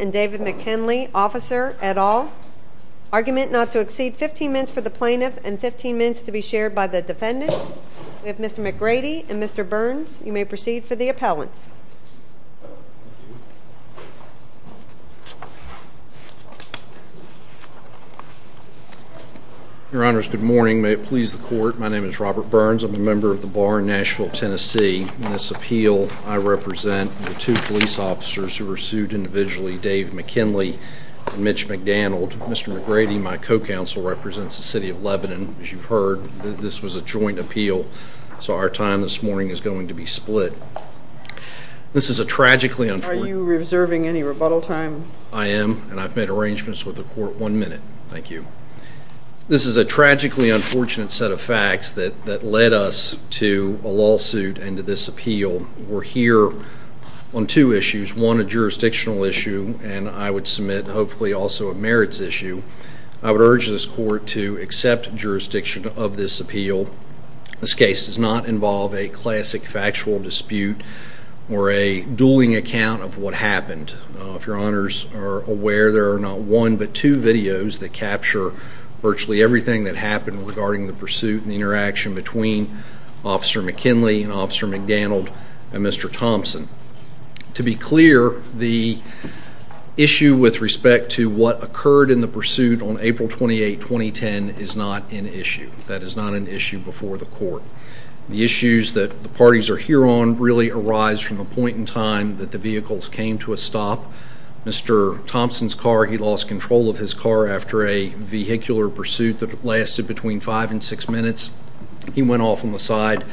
and David McKinley, officer, et al. Argument not to exceed 15 minutes for the plaintiff and 15 minutes to be shared by the defendant. We have Mr. McGrady and Mr. Burns. You may proceed for the appellants. Your honors, good morning. May it please the court, my name is Robert Burns. I'm a member of the Bar in Nashville, Tennessee. In this appeal, I represent the two police officers who were sued individually, Dave McKinley and Mitch McDonald. Mr. McGrady, my co-counsel, represents the City of Lebanon. As you've heard, this was a joint appeal, so our time this morning is going to be split. This is a tragically unfortunate... Are you reserving any rebuttal time? I am, and I've made arrangements with the court one minute. Thank you. This is a tragically unfortunate set of facts that that led us to a lawsuit and to this appeal. We're here on two issues, one a jurisdictional issue, and I would submit, hopefully also a merits issue. I would urge this court to accept jurisdiction of this appeal. This case does not involve a classic factual dispute or a dueling account of what happened. If your honors are aware, there are not one but two videos that capture virtually everything that happened regarding the pursuit and interaction between Officer McKinley and Officer McDonald and Mr. Thompson. To be clear, what occurred in the pursuit on April 28, 2010, is not an issue. That is not an issue before the court. The issues that the parties are here on really arise from a point in time that the vehicles came to a stop. Mr. Thompson's car, he lost control of his car after a vehicular pursuit that lasted between five and six minutes. He went off on the side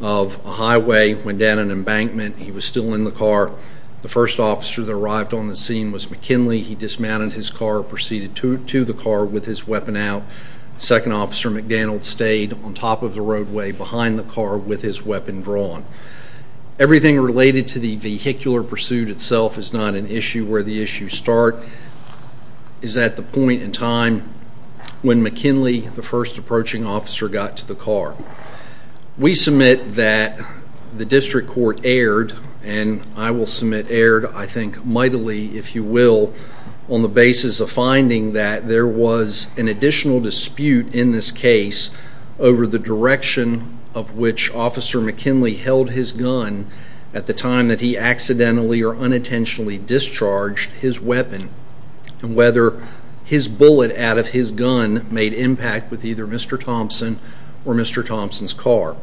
of a highway, went down an embankment. He was still in the car. The first officer that arrived on the scene was McKinley. He dismounted his car, proceeded to the car with his weapon out. Second officer McDonald stayed on top of the roadway behind the car with his weapon drawn. Everything related to the vehicular pursuit itself is not an issue. Where the issues start is at the point in time when McKinley, the first approaching officer, got to the car. We submit that the district court erred, and I will submit erred, I think, mightily, if you will, on the basis of finding that there was an additional dispute in this case over the direction of which Officer McKinley held his gun at the time that he accidentally or unintentionally discharged his weapon, and whether his bullet out of his gun made impact with either Mr. Thompson or Mr. Thompson's car.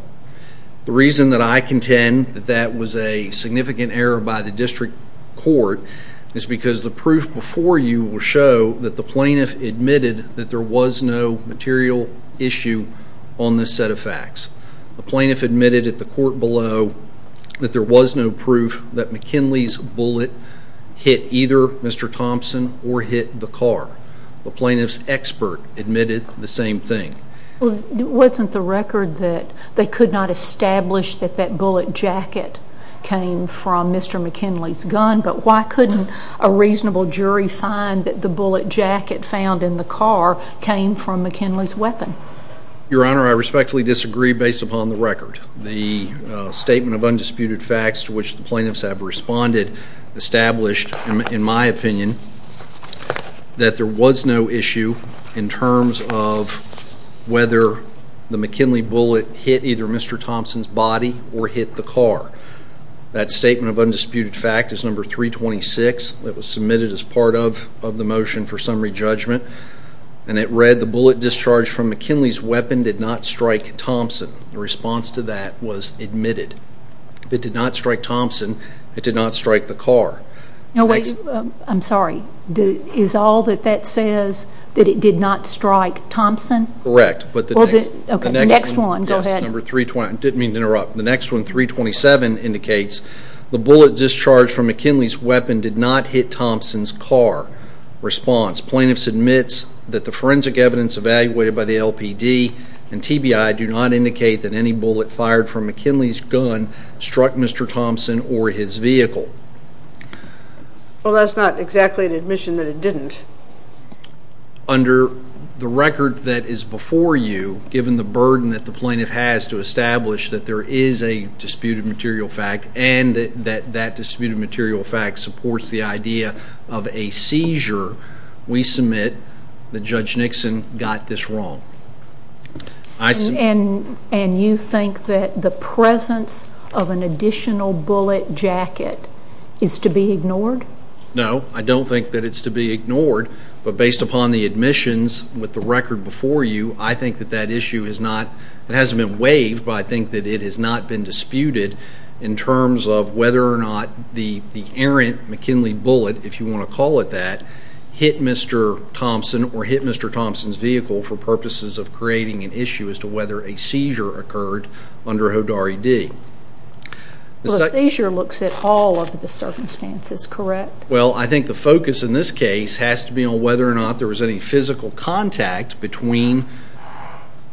The reason that I contend that that was a significant error by the district court is because the proof before you will show that the plaintiff admitted that there was no material issue on this set of facts. The plaintiff admitted at the court below that there was no proof that McKinley's bullet hit either Mr. Thompson or hit the car. The plaintiff's expert admitted the same thing. Wasn't the record that they could not establish that that was McKinley's gun, but why couldn't a reasonable jury find that the bullet jacket found in the car came from McKinley's weapon? Your Honor, I respectfully disagree based upon the record. The statement of undisputed facts to which the plaintiffs have responded established, in my opinion, that there was no issue in terms of whether the McKinley bullet hit either Mr. Thompson's body or hit the car. That statement of undisputed fact is number 326. It was submitted as part of the motion for summary judgment, and it read the bullet discharged from McKinley's weapon did not strike Thompson. The response to that was admitted. It did not strike Thompson. It did not strike the car. I'm sorry, is all that that says that it did not strike Thompson? Correct, but the next one, 327, indicates the bullet discharged from McKinley's weapon did not hit Thompson's car. Response, plaintiff submits that the forensic evidence evaluated by the LPD and TBI do not indicate that any bullet fired from McKinley's gun struck Mr. Thompson or his vehicle. Well that's not exactly an admission that it didn't. Under the record that is before you, given the burden that the plaintiff has to establish that there is a disputed material fact and that that disputed material fact supports the idea of a seizure, we submit that Judge Nixon got this wrong. And you think that the presence of an additional bullet jacket is to be ignored? No, I don't think that it's to be ignored, but based upon the admissions with the record before you, I think that that issue has not, it hasn't been waived, but I think that it has not been disputed in terms of whether or not the errant McKinley bullet, if you want to call it that, hit Mr. Thompson or hit Mr. Thompson's vehicle for purposes of creating an issue as to whether a seizure occurred under HODAR-ED. The seizure looks at all of the circumstances, correct? Well, I think the focus in this case has to be whether or not there was any physical contact between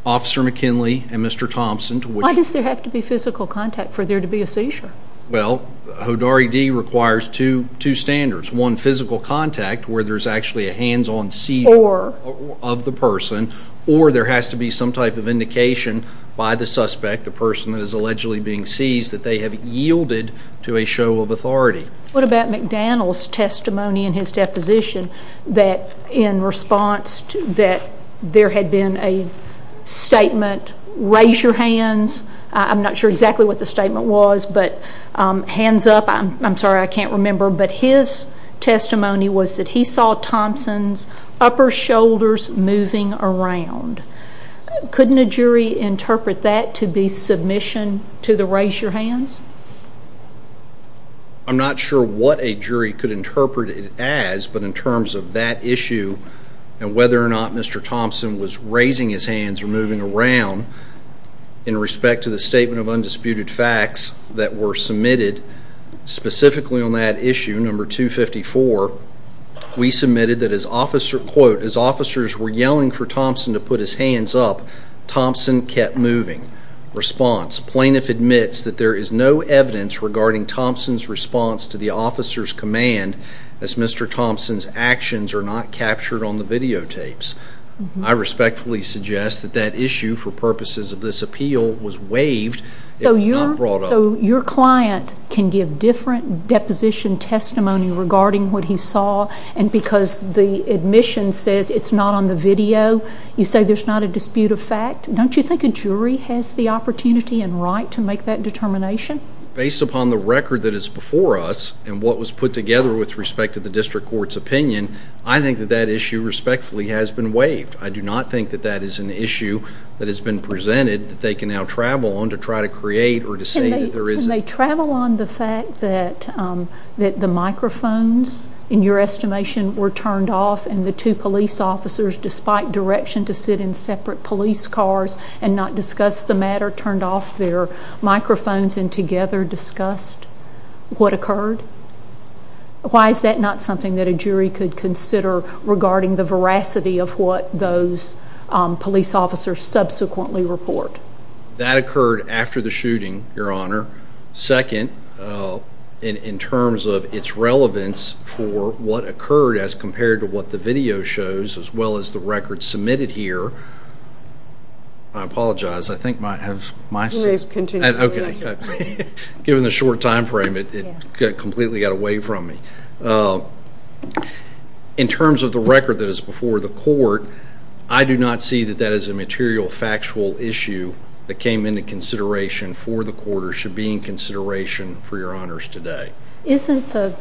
Officer McKinley and Mr. Thompson. Why does there have to be physical contact for there to be a seizure? Well, HODAR-ED requires two standards. One, physical contact where there's actually a hands-on seizure of the person, or there has to be some type of indication by the suspect, the person that is allegedly being seized, that they have yielded to a show of authority. What about McDaniel's testimony in his in response that there had been a statement, raise your hands, I'm not sure exactly what the statement was, but hands up, I'm sorry I can't remember, but his testimony was that he saw Thompson's upper shoulders moving around. Couldn't a jury interpret that to be submission to the raise your hands? I'm not sure what a issue and whether or not Mr. Thompson was raising his hands or moving around in respect to the statement of undisputed facts that were submitted specifically on that issue, number 254. We submitted that as officer, quote, as officers were yelling for Thompson to put his hands up, Thompson kept moving. Response, plaintiff admits that there is no evidence regarding Thompson's response to the officer's command as Mr. Thompson's actions are not captured on the videotapes. I respectfully suggest that that issue for purposes of this appeal was waived, it was not brought up. So your client can give different deposition testimony regarding what he saw and because the admission says it's not on the video, you say there's not a dispute of fact, don't you think a jury has the opportunity and right to make that determination? Based upon the record that and what was put together with respect to the district court's opinion, I think that that issue respectfully has been waived. I do not think that that is an issue that has been presented that they can now travel on to try to create or to say that there isn't. Can they travel on the fact that the microphones in your estimation were turned off and the two police officers, despite direction to sit in separate police cars and not discuss the matter, turned off their microphones and together discussed what occurred? Why is that not something that a jury could consider regarding the veracity of what those police officers subsequently report? That occurred after the shooting, Your Honor. Second, in terms of its relevance for what occurred as compared to what the video shows, as well as the given the short time frame it completely got away from me. In terms of the record that is before the court, I do not see that that is a material factual issue that came into consideration for the court or should be in consideration for Your Honors today. Isn't the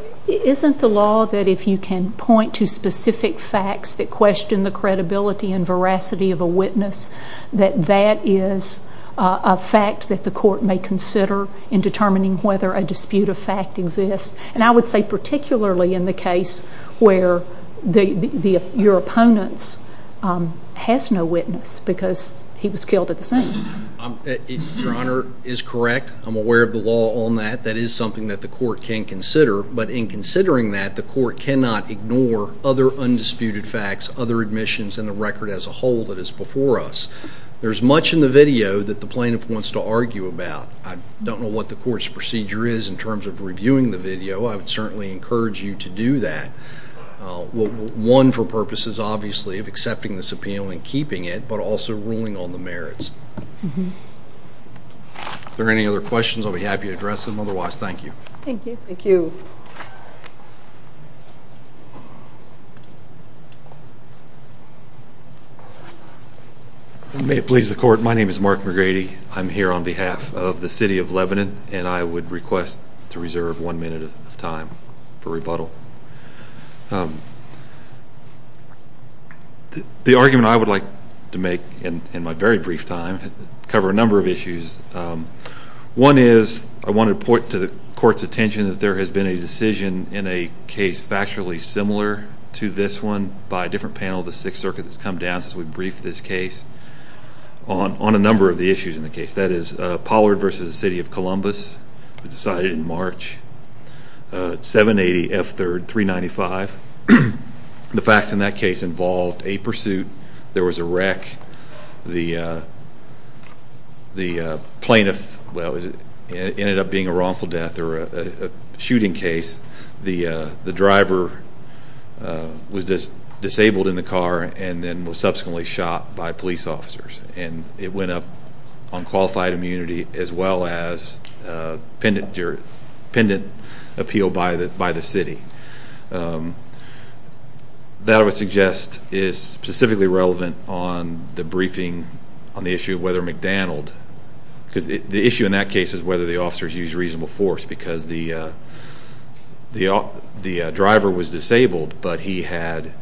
law that if you can point to specific facts that question the credibility and veracity of a in determining whether a dispute of fact exists. And I would say particularly in the case where the your opponents has no witness because he was killed at the scene. Your Honor is correct. I'm aware of the law on that. That is something that the court can consider. But in considering that, the court cannot ignore other undisputed facts, other admissions and the record as a whole that is before us. There's much in the video that the plaintiff wants to argue about. I don't know what the court's procedure is in terms of reviewing the video. I would certainly encourage you to do that. One for purposes, obviously, of accepting this appeal and keeping it, but also ruling on the merits. Are there any other questions? I'll be happy to address them. Otherwise, thank you. Thank you. Thank you. May it please the court. My name is Mark McGrady. I'm here on behalf of the city of Lebanon, and I would request to reserve one minute of time for rebuttal. The argument I would like to make in my very brief time cover a number of issues. One is I want to point to the court's attention that there has been a decision in a case factually similar to this one by a different panel of the Sixth Circuit that's come down since we briefed this case on on a number of the issues in the case that is Pollard versus the city of Columbus. We decided in March 7 80 F 3rd 3 95. The facts in that case involved a pursuit. There was a wreck. The way the plaintiff ended up being a wrongful death or a shooting case. The driver was just disabled in the car and then was subsequently shot by police officers, and it went up on qualified immunity as well as pendent pendent appeal by the by the city. Um, that I would suggest is specifically relevant on the briefing on the issue of whether McDonald because the issue in that case is whether the officers use reasonable force because the the the driver was disabled, but he had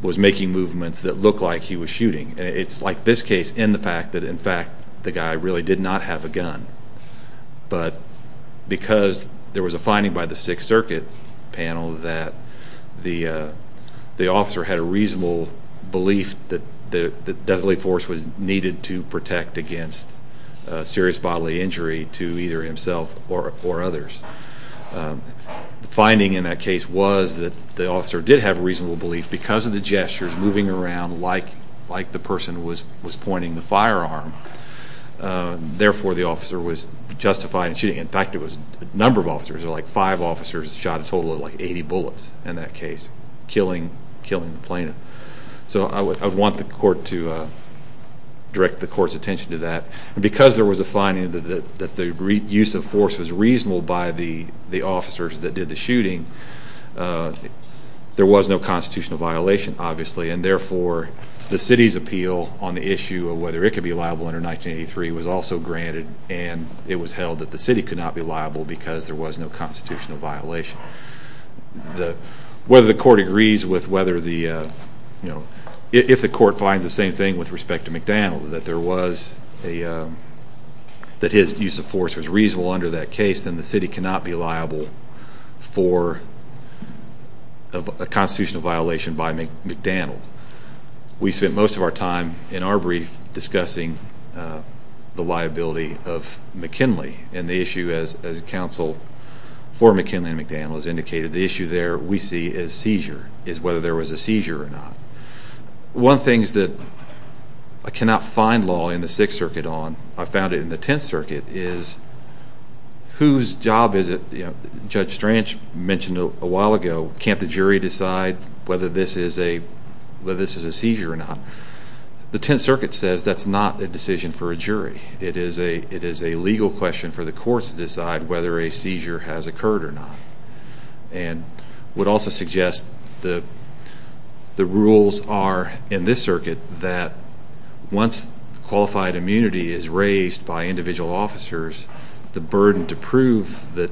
was making movements that look like he was shooting. It's like this case in the fact that, in fact, the guy really did not have a gun. But because there was a finding by the Sixth Circuit panel that the the officer had a reasonable belief that the deadly force was needed to protect against serious bodily injury to either himself or or others. Finding in that case was that the officer did have reasonable belief because of the gestures moving around like like the person was was pointing the firearm. Therefore, the officer was justified shooting. In fact, it was a number of officers, like five officers shot a total of like 80 bullets in that case, killing, killing the plaintiff. So I would want the court to direct the court's attention to that. Because there was a finding that that the use of force was reasonable by the officers that did the shooting. There was no constitutional violation, obviously, and therefore the city's appeal on the issue of whether it could be liable under 1983 was also granted, and it was held that the city could not be liable because there was no constitutional violation. Whether the court agrees with whether the, you know, if the court finds the same thing with respect to McDaniel, that there was a that his use of force was reasonable under that case, then the city cannot be liable for a constitutional violation by McDaniel. We spent most of our time in our brief discussing the liability of McKinley and the issue, as counsel for McKinley and McDaniel has indicated, the issue there we see as seizure, is whether there was a seizure or not. One of the things that I cannot find law in the Sixth Circuit on, I found it in the Tenth Circuit, is whose job is it, you know, Judge Stranch mentioned a while ago, can't the jury decide whether this is a seizure or not? The Tenth Circuit says that's not a decision for a jury. It is a legal question for the courts to decide whether a seizure has occurred or not. And would also suggest the rules are in this circuit that once qualified immunity is raised by individual officers, the burden to prove that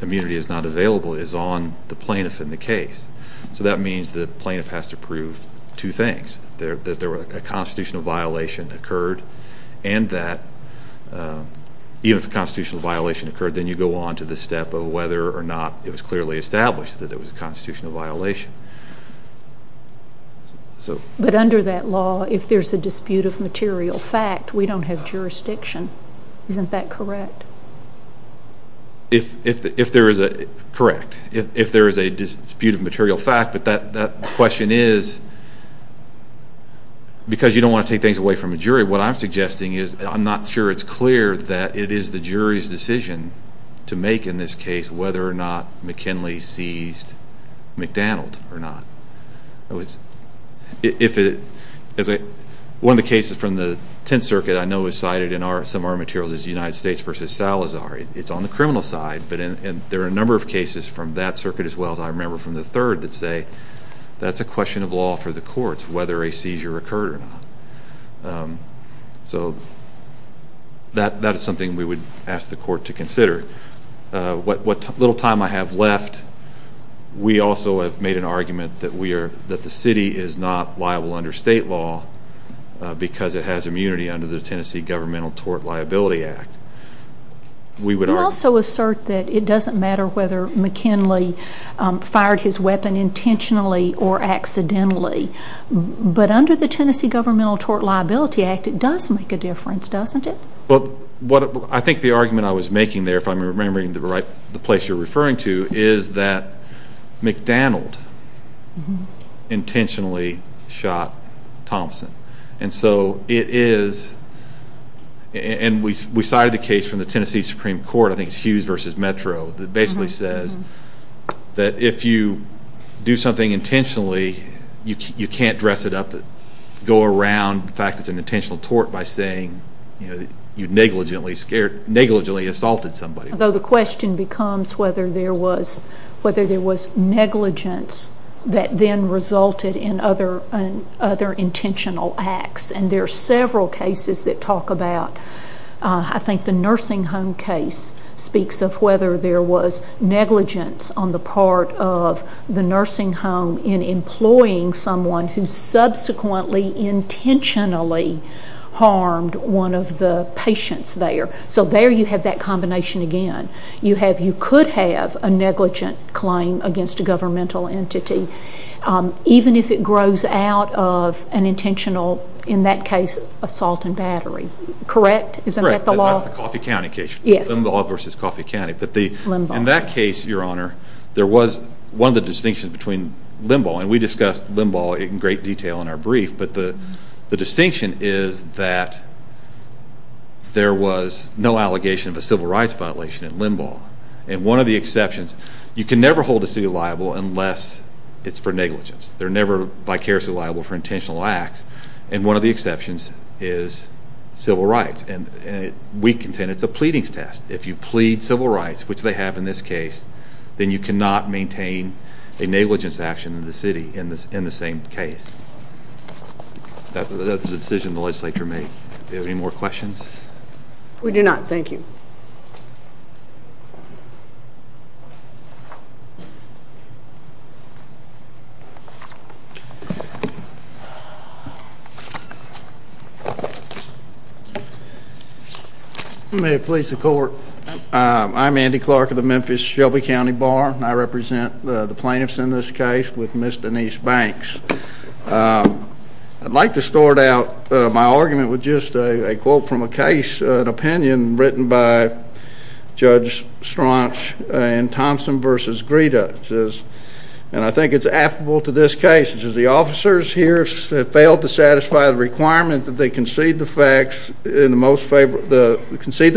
immunity is not available is on the plaintiff in the case. So that means the plaintiff has to prove two things. That there was a constitutional violation occurred and that even if a constitutional violation occurred, then you go on to the step of whether or not it was clearly established that it was a constitutional violation. But under that law, if there's a dispute of material fact, we don't have jurisdiction. Isn't that correct? Correct. If there is a dispute of material fact, but that question is because you don't want to take things away from a jury, what I'm suggesting is I'm not sure it's clear that it is the jury's decision to make in this case whether or not McKinley seized McDonald or not. One of the cases from the Tenth Circuit I know is cited in some of our materials is United States versus Salazar. It's on the criminal side, but there are a number of cases from that circuit as well as I remember from the third that say that's a question of law for the courts whether a seizure occurred or not. So that is something we would ask the court to consider. What little time I have left, we also have made an argument that the city is not liable under state law because it has immunity under the Tennessee Governmental Tort Liability Act. We would also assert that it doesn't matter whether McKinley fired his but under the Tennessee Governmental Tort Liability Act, it does make a difference, doesn't it? I think the argument I was making there, if I'm remembering the place you're referring to, is that McDonald intentionally shot Thompson. And so it is, and we cited the case from the Tennessee Supreme Court, I think it's Hughes versus Metro, that basically says that if you do something intentionally, you can't dress it up, go around the fact that it's an intentional tort by saying that you negligently assaulted somebody. Though the question becomes whether there was negligence that then resulted in other intentional acts. And there are several cases that talk about, I think the nursing home case speaks of whether there was negligence on the part of the nursing home in employing someone who subsequently intentionally harmed one of the patients there. So there you have that combination again. You have, you could have a negligent claim against a governmental entity, even if it grows out of an intentional, in that case, assault and battery. Correct? Isn't that the law? That's the Coffey County case. Limbaugh versus Coffey County. But in that case, your honor, there was one of the distinctions between Limbaugh, and we discussed Limbaugh in great detail in our brief, but the distinction is that there was no allegation of a civil rights violation in Limbaugh. And one of the exceptions, you can never hold a city liable unless it's for negligence. They're never vicariously liable for intentional acts. And one of the exceptions is civil rights. And we contend it's a pleadings test. If you plead civil rights, which they have in this case, then you cannot maintain a negligence action in the city in the same case. That's the decision the legislature made. Do you have any more questions? We do not. Thank you. May it please the court. I'm Andy Clark of the Memphis Shelby County Bar. I represent the plaintiffs in this case with Ms. Denise Banks. I'd like to start out my argument with just a quote from a case, an opinion written by Judge Straunch in Thompson versus Greta. It says, and I think it's applicable to this case, it says, the officers here failed to satisfy the requirement that they concede the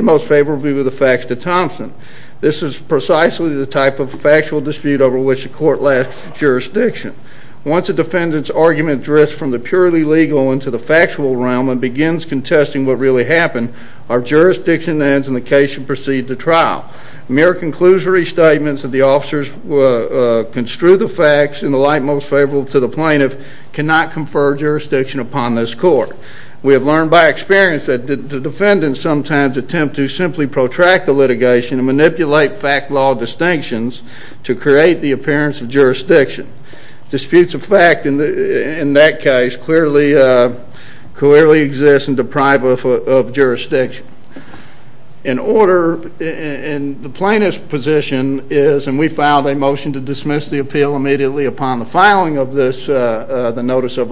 most favorable view of the facts to Thompson. This is precisely the type of factual dispute over which the court lacks jurisdiction. Once a defendant's argument drifts from the purely legal into the factual realm and begins contesting what really happened, our jurisdiction ends and the case should proceed to trial. Mere conclusory statements that the officers construe the facts in the light most favorable to the plaintiff cannot confer jurisdiction upon this court. We have learned by experience that the defendants sometimes attempt to simply protract the litigation and manipulate fact-law distinctions to create the appearance of jurisdiction. Disputes of fact in that case clearly exist and deprive of jurisdiction. In order, and the plaintiff's position is, and we filed a motion to dismiss the appeal immediately upon the filing of this, the notice of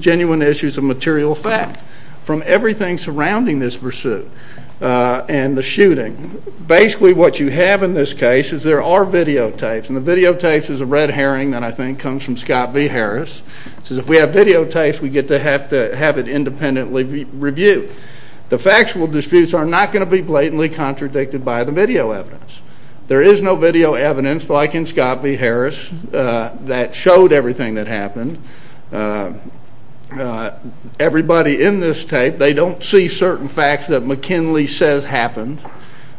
genuine issues of material fact from everything surrounding this pursuit and the shooting, basically what you have in this case is there are videotapes. And the videotapes is a red herring that I think comes from Scott v. Harris. It says if we have videotapes, we get to have to have it independently reviewed. The factual disputes are not going to be blatantly contradicted by the video evidence. There is no video evidence, like in Scott v. Harris, that showed everything that happened. Everybody in this tape, they don't see certain facts that McKinley says happened,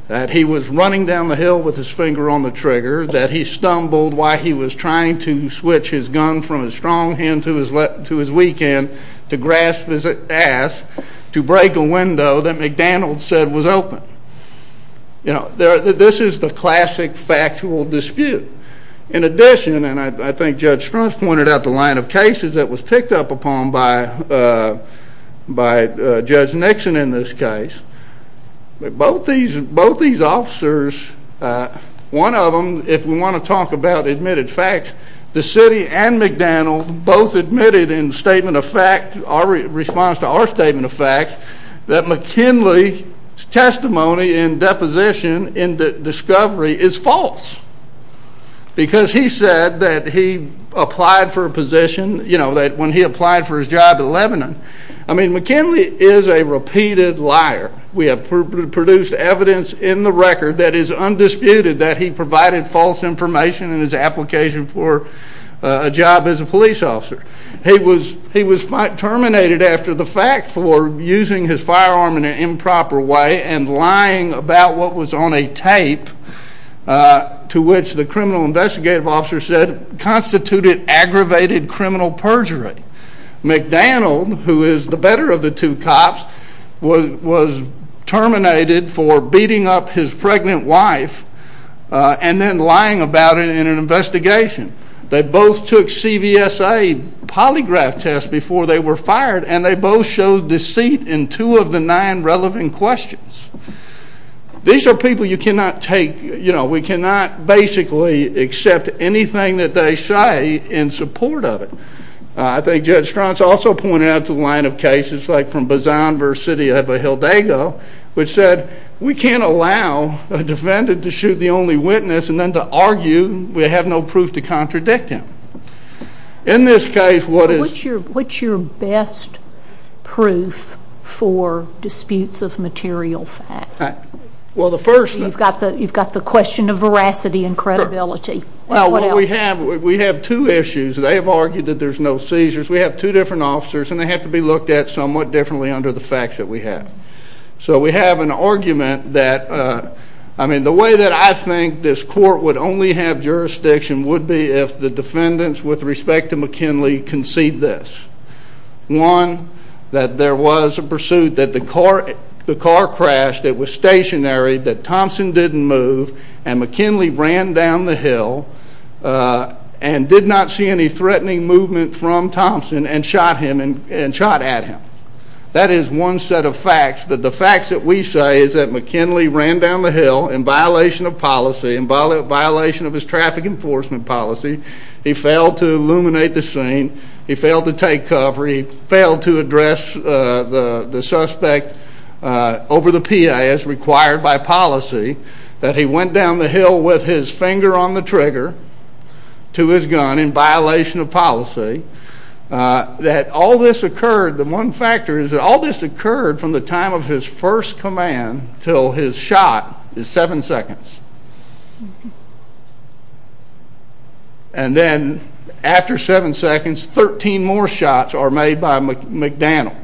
that he was running down the hill with his finger on the trigger, that he stumbled while he was trying to switch his gun from his strong hand to his weekend to grasp his ass to break a window that McDaniel said was open. You know, this is the classic factual dispute. In addition, and I think Judge Spruance pointed out the line of cases that was picked up upon by Judge Nixon in this case, both these officers, one of them, if we want to talk about admitted facts, the city and McDaniel both admitted in statement of fact, our response to our statement of facts, that McKinley's testimony in deposition in the discovery is false, because he said that he applied for a position, you know, that when he applied for his job in Lebanon. I mean, McKinley is a repeated liar. We have produced evidence in the record that is undisputed that he provided false information in his application for a job as a police officer. He was terminated after the fact for using his firearm in an improper way and lying about what was on a tape to which the criminal investigative officer said constituted aggravated criminal perjury. McDaniel, who is the better of the two cops, was terminated for beating up his pregnant wife and then lying about it in an investigation. They both took CVSA polygraph tests before they were fired and they both showed deceit in two of the nine relevant questions. These are people you cannot take, you know, we cannot basically accept anything that they say in support of it. I think Judge Strauss also pointed out the line of cases like from Bazan versus City of Hildago, which said, we can't allow a defendant to shoot the only witness and then to argue we have no proof to contradict him. In this case, what is... What's your best proof for disputes of material fact? Well, the first... You've got the question of veracity and credibility. Well, we have two issues. They have argued that there's no seizures. We have two different officers and they have to be looked at somewhat differently under the facts that we have. So we have an argument that, I mean, the way that I think this court would only have jurisdiction would be if the defendants, with respect to McKinley, concede this. One, that there was a pursuit, that the car crashed, it was stationary, that Thompson didn't move and McKinley ran down the hill and did not see any threatening movement from Thompson and shot him and shot at him. That is one set of facts, that the facts that we say is that McKinley ran down the hill in violation of policy, in violation of his traffic enforcement policy. He failed to illuminate the scene. He failed to take cover. He failed to address the suspect over the PA as required by policy, that he went down the hill with his finger on the trigger to his gun in violation of policy, that all this occurred. The one factor is that all this occurred from the time of his first command till his shot is seven seconds. And then after seven seconds, 13 more shots are made by McDaniel.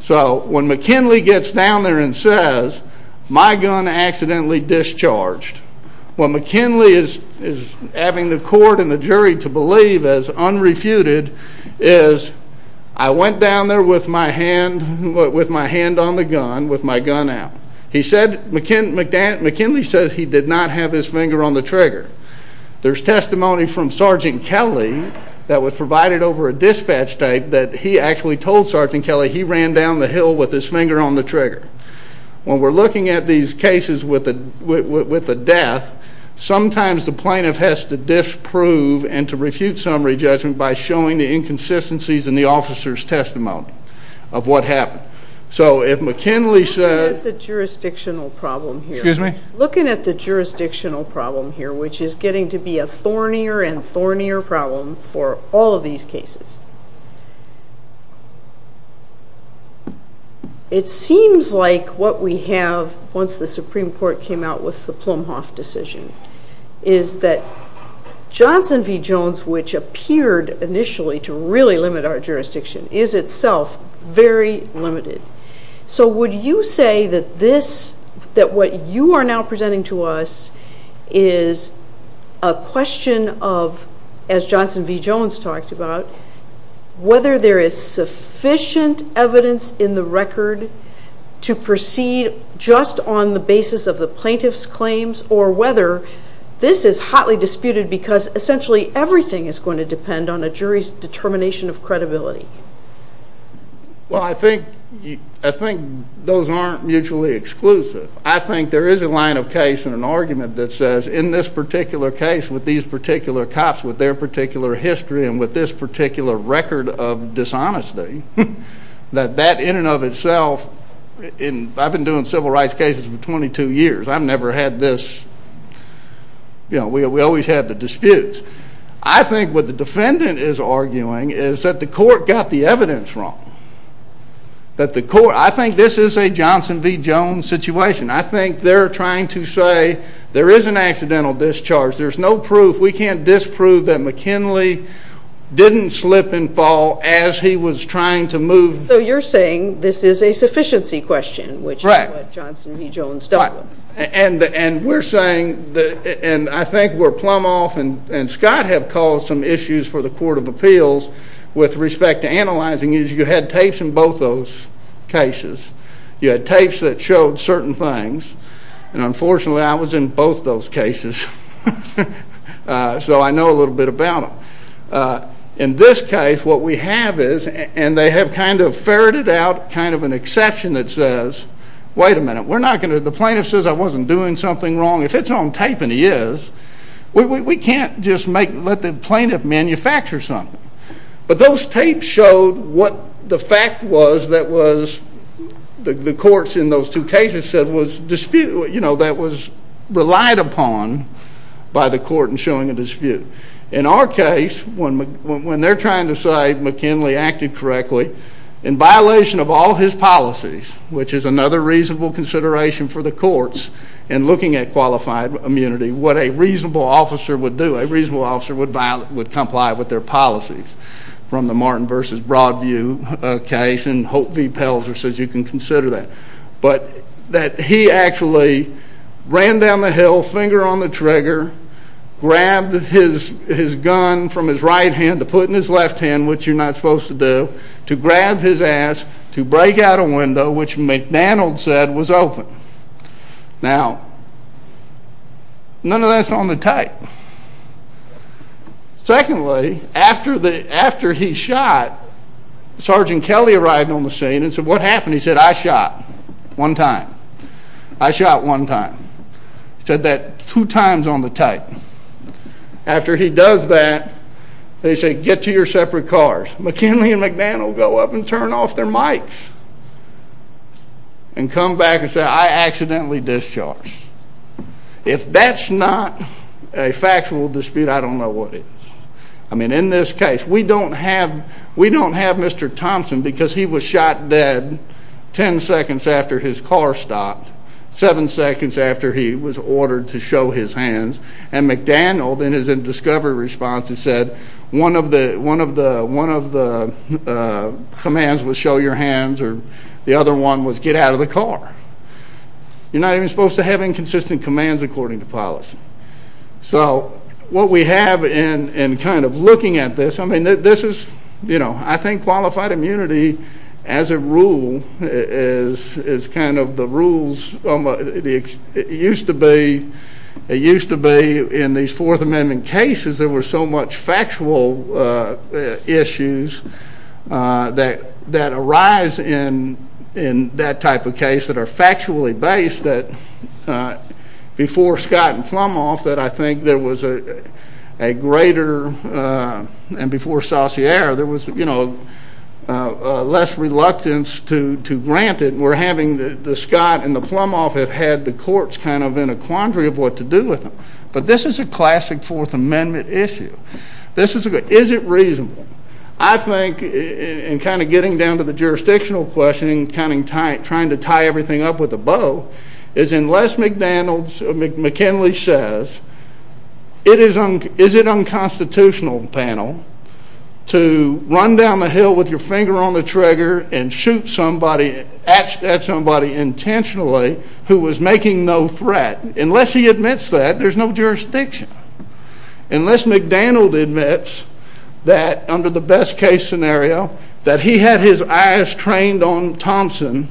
So when McKinley gets down there and says, my gun accidentally discharged, what McKinley is having the court and the jury to with my hand on the gun, with my gun out. He said, McKinley said he did not have his finger on the trigger. There's testimony from Sergeant Kelly that was provided over a dispatch tape that he actually told Sergeant Kelly he ran down the hill with his finger on the trigger. When we're looking at these cases with the death, sometimes the plaintiff has to disprove and to refute summary judgment by showing the inconsistencies in the officer's testimony. Of what happened. So if McKinley said... Looking at the jurisdictional problem here, which is getting to be a thornier and thornier problem for all of these cases. It seems like what we have, once the Supreme Court came out with the Plumhoff decision, is that Johnson v. Jones, which appeared initially to really limit our jurisdiction is itself very limited. So would you say that this, that what you are now presenting to us is a question of, as Johnson v. Jones talked about, whether there is sufficient evidence in the record to proceed just on the basis of the plaintiff's claims or whether this is hotly disputed because essentially everything is going to depend on a jury's determination of Well, I think those aren't mutually exclusive. I think there is a line of case and an argument that says in this particular case with these particular cops, with their particular history, and with this particular record of dishonesty, that that in and of itself, and I've been doing civil rights cases for 22 years. I've never had this, you know, we always had the disputes. I think what the defendant is arguing is that the court got the evidence wrong. That the court, I think this is a Johnson v. Jones situation. I think they're trying to say there is an accidental discharge. There's no proof. We can't disprove that McKinley didn't slip and fall as he was trying to move. So you're saying this is a sufficiency question, which is what Johnson v. Jones dealt with. And we're saying, and I think where Plumhoff and Scott have caused some issues for the Court of Appeals with respect to analyzing is you had tapes in both those cases. You had tapes that showed certain things. And unfortunately, I was in both those cases. So I know a little bit about them. In this case, what we have is, and they have kind of ferreted out kind of an exception that says, wait a minute. We're not going to, the plaintiff says I wasn't doing something wrong. If it's on tape and he is, we can't just make, let the plaintiff manufacture something. But those tapes showed what the fact was that was the courts in those two cases said was dispute, you know, that was relied upon by the court in showing a dispute. In our case, when they're trying to say McKinley acted correctly in violation of all his policies, which is another reasonable consideration for the courts in looking at qualified immunity, what a reasonable officer would do, a reasonable from the Martin v. Broadview case, and Hope v. Pelzer says you can consider that, but that he actually ran down the hill, finger on the trigger, grabbed his gun from his right hand to put in his left hand, which you're not supposed to do, to grab his ass to break out a window, which McDonald said was open. Now, none of that's on the tape. Secondly, after he shot, Sergeant Kelly arrived on the scene and said, what happened? He said, I shot one time. I shot one time. He said that two times on the tape. After he does that, they say, get to your separate cars. McKinley and McDonald go up and turn off their mics and come back and say, I accidentally discharged. If that's not a factual dispute, I don't know what is. I mean, in this case, we don't have Mr. Thompson because he was shot dead ten seconds after his car stopped, seven seconds after he was ordered to show his hands, and McDonald, in his discovery response, has said one of the commands was show your hands or the other one was get out of the car. You're not even supposed to have inconsistent commands according to policy. So what we have in kind of looking at this, I mean, this is, you know, I think qualified immunity as a rule is kind of the rules. It used to be in these Fourth Amendment cases, there were so much factual issues that arise in that type of case that are factually based that before Scott and Plumhoff, that I think there was a greater, and before Saussure, there was, you know, less reluctance to grant it. We're having the Scott and the Plumhoff have had the courts kind of in a quandary of what to do with them. But this is a classic Fourth Amendment issue. This is a good, is it reasonable? I think in kind of getting down to the jurisdictional question, trying to tie everything up with a bow, is unless McDanald, McKinley says, is it unconstitutional, panel, to run down the hill with your finger on the trigger and shoot somebody, at somebody intentionally who was making no threat, unless he admits that there's no jurisdiction, unless McDanald admits that under the best case scenario that he had his eyes trained on Thompson,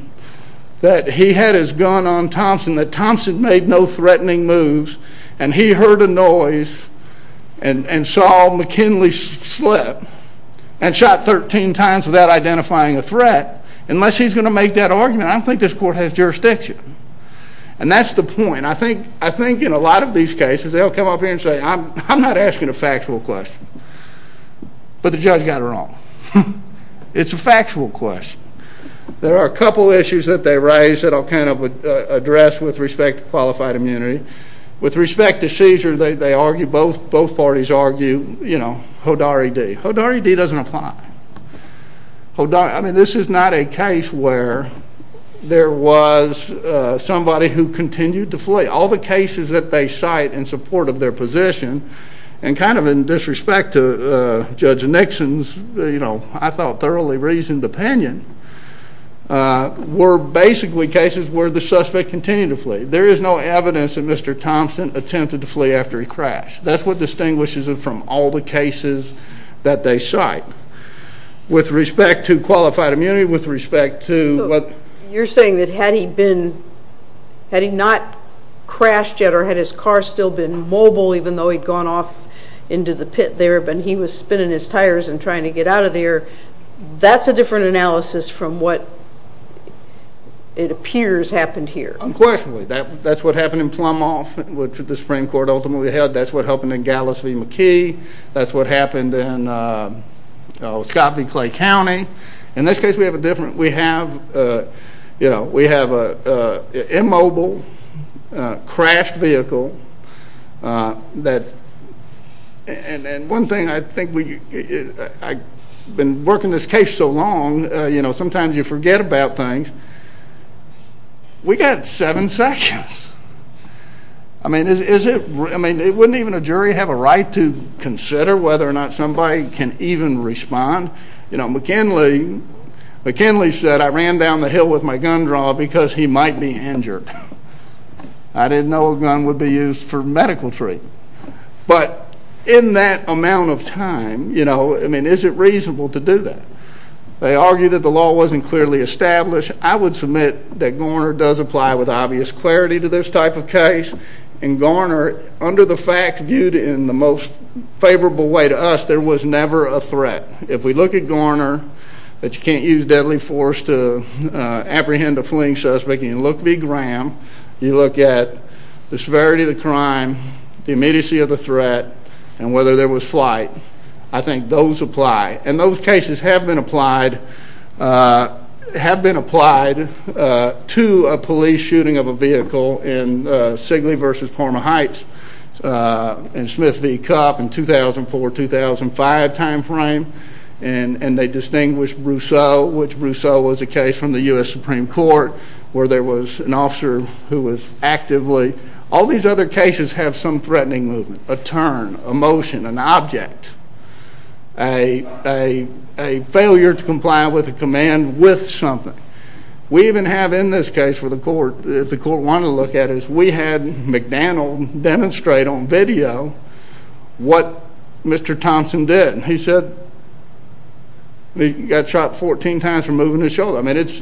that he had his gun on Thompson, that Thompson made no threatening moves, and he heard a noise and saw McKinley slip and shot 13 times without identifying a threat, unless he's going to make that argument, I don't think this court has jurisdiction. And that's the point. I think in a lot of these cases, they'll come up here and say, I'm not asking a factual question. But the judge got it wrong. It's a factual question. There are a couple issues that they raise that I'll kind of address with respect to qualified immunity. With respect to seizure, they argue, both parties argue, you know, Hodari D. Hodari D. doesn't apply. I mean, this is not a case where there was somebody who continued to flee. All the cases that they cite in support of their position, and kind of in disrespect to Judge Nixon's, you know, I thought thoroughly reasoned opinion, were basically cases where the suspect continued to flee. There is no evidence that Mr. Thompson attempted to flee after he crashed. That's what distinguishes it from all the cases that they cite. With respect to qualified immunity, with respect to what... You're saying that had he been, had he not crashed yet or had his car still been mobile, even though he'd gone off into the pit there, but he was spinning his tires and trying to get out of there, that's a different analysis from what it appears happened here. Unquestionably, that's what happened in Plumoff, which the Supreme Court ultimately held. That's what happened in Gallus v. McKee. That's what happened in Scott v. Clay County. In this case, we have a different, we have, you know, we know that, and one thing I think we, I've been working this case so long, you know, sometimes you forget about things. We got seven seconds. I mean, is it, I mean, it wouldn't even a jury have a right to consider whether or not somebody can even respond. You know, McKinley, McKinley said, I ran down the hill with my gun draw because he might be injured. I didn't know a gun would be used for medical treatment, but in that amount of time, you know, I mean, is it reasonable to do that? They argue that the law wasn't clearly established. I would submit that Garner does apply with obvious clarity to this type of case, and Garner, under the facts viewed in the most favorable way to us, there was never a threat. If we look at Garner, that you can't use deadly force to apprehend a fleeing suspect, and you look v. Graham, you look at the severity of the crime, the immediacy of the threat, and whether there was flight, I think those apply, and those cases have been applied, have been applied to a police shooting of a vehicle in Sigley versus Parma Heights in Smith v. Cupp in 2004-2005 timeframe, and they distinguished Brousseau, which Brousseau was a case from the U.S. Supreme Court, where there was an officer who was actively, all these other cases have some threatening movement, a turn, a motion, an object, a failure to comply with a command with something. We even have in this case for the court, if the court wanted to look at it, we had McDaniel demonstrate on the court that he got shot 14 times for moving his shoulder. I mean, it's,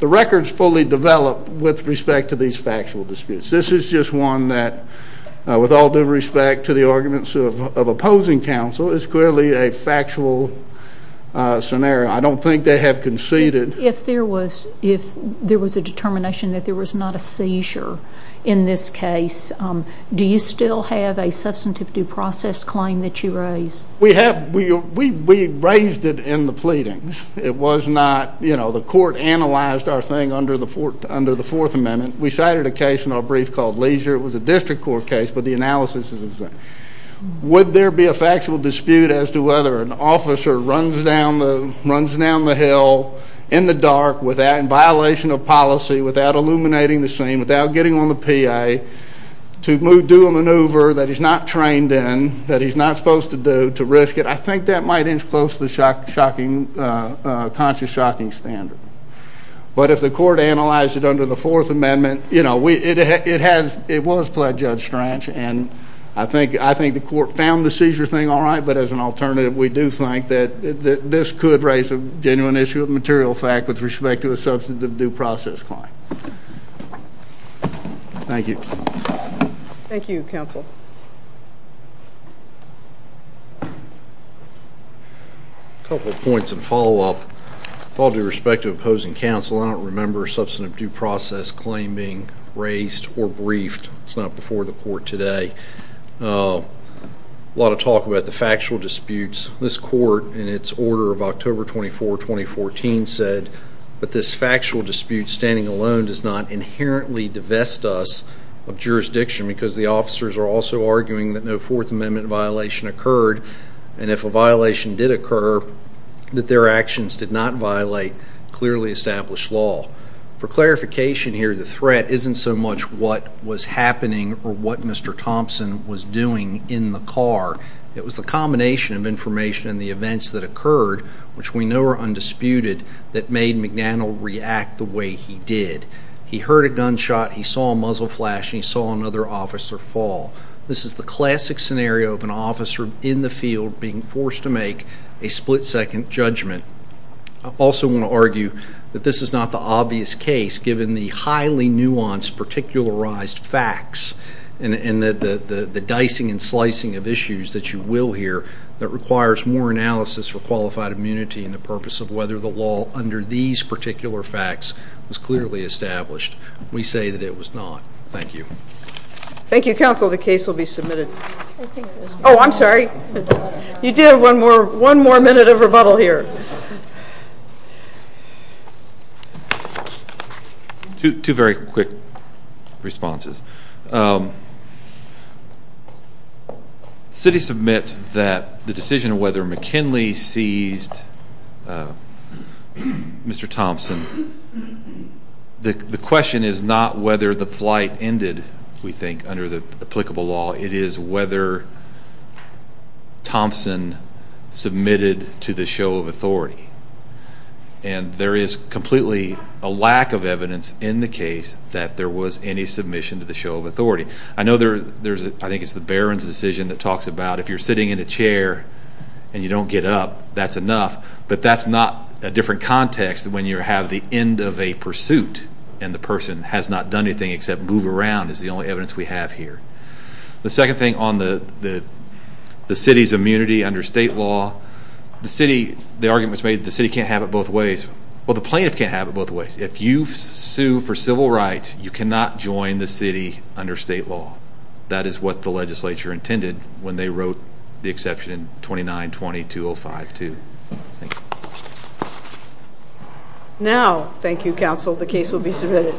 the record's fully developed with respect to these factual disputes. This is just one that, with all due respect to the arguments of opposing counsel, is clearly a factual scenario. I don't think they have conceded. If there was, if there was a determination that there was not a seizure in this case, do you still have a substantive due process claim that you raise? We have. We raised it in the pleadings. It was not, you know, the court analyzed our thing under the Fourth Amendment. We cited a case in our brief called Leisure. It was a district court case, but the analysis is the same. Would there be a factual dispute as to whether an officer runs down the hill in the dark, without, in violation of policy, without illuminating the scene, without getting on the PA, to do a maneuver that he's not trained in, that he's not supposed to do, to risk it? I think that might inch close to the shocking, conscious, shocking standard. But if the court analyzed it under the Fourth Amendment, you know, we, it has, it was pledged, Judge Strach, and I think, I think the court found the seizure thing all right, but as an alternative, we do think that this could raise a genuine issue of material fact with respect to a substantive due process claim. Thank you. Thank you, Counsel. A couple of points in follow-up. With all due respect to opposing counsel, I don't remember a substantive due process claim being raised or briefed. It's not before the court today. A lot of talk about the factual disputes. This court, in its order of October 24, 2014, said, but this factual dispute standing alone does not inherently divest us of jurisdiction because the officers are also arguing that no Fourth Amendment violation occurred. And if a violation did occur, that their actions did not violate clearly established law. For clarification here, the threat isn't so much what was happening or what Mr. Thompson was doing in the car. It was the combination of information and the events that occurred, which we know are undisputed, that saw a muzzle flash and he saw another officer fall. This is the classic scenario of an officer in the field being forced to make a split-second judgment. I also want to argue that this is not the obvious case, given the highly nuanced particularized facts and the dicing and slicing of issues that you will hear that requires more analysis for qualified immunity and the purpose of whether the law under these particular facts was clearly established. We say that it was not. Thank you. Thank you, counsel. The case will be submitted. Oh, I'm sorry. You do have one more minute of rebuttal here. Two very quick responses. The city submits that the decision of whether McKinley seized Mr. Thompson. The question is not whether the flight ended, we think, under the applicable law. It is whether Thompson submitted to the show of authority. And there is completely a lack of evidence in the case that there was any submission to the show of authority. I know there's, I think it's the Barron's decision that talks about if you're sitting in a But that's not a different context when you have the end of a pursuit and the person has not done anything except move around is the only evidence we have here. The second thing on the city's immunity under state law, the arguments made the city can't have it both ways. Well, the plaintiff can't have it both ways. If you sue for civil rights, you cannot join the city under state law. That is what the Now, thank you, counsel. The case will be submitted.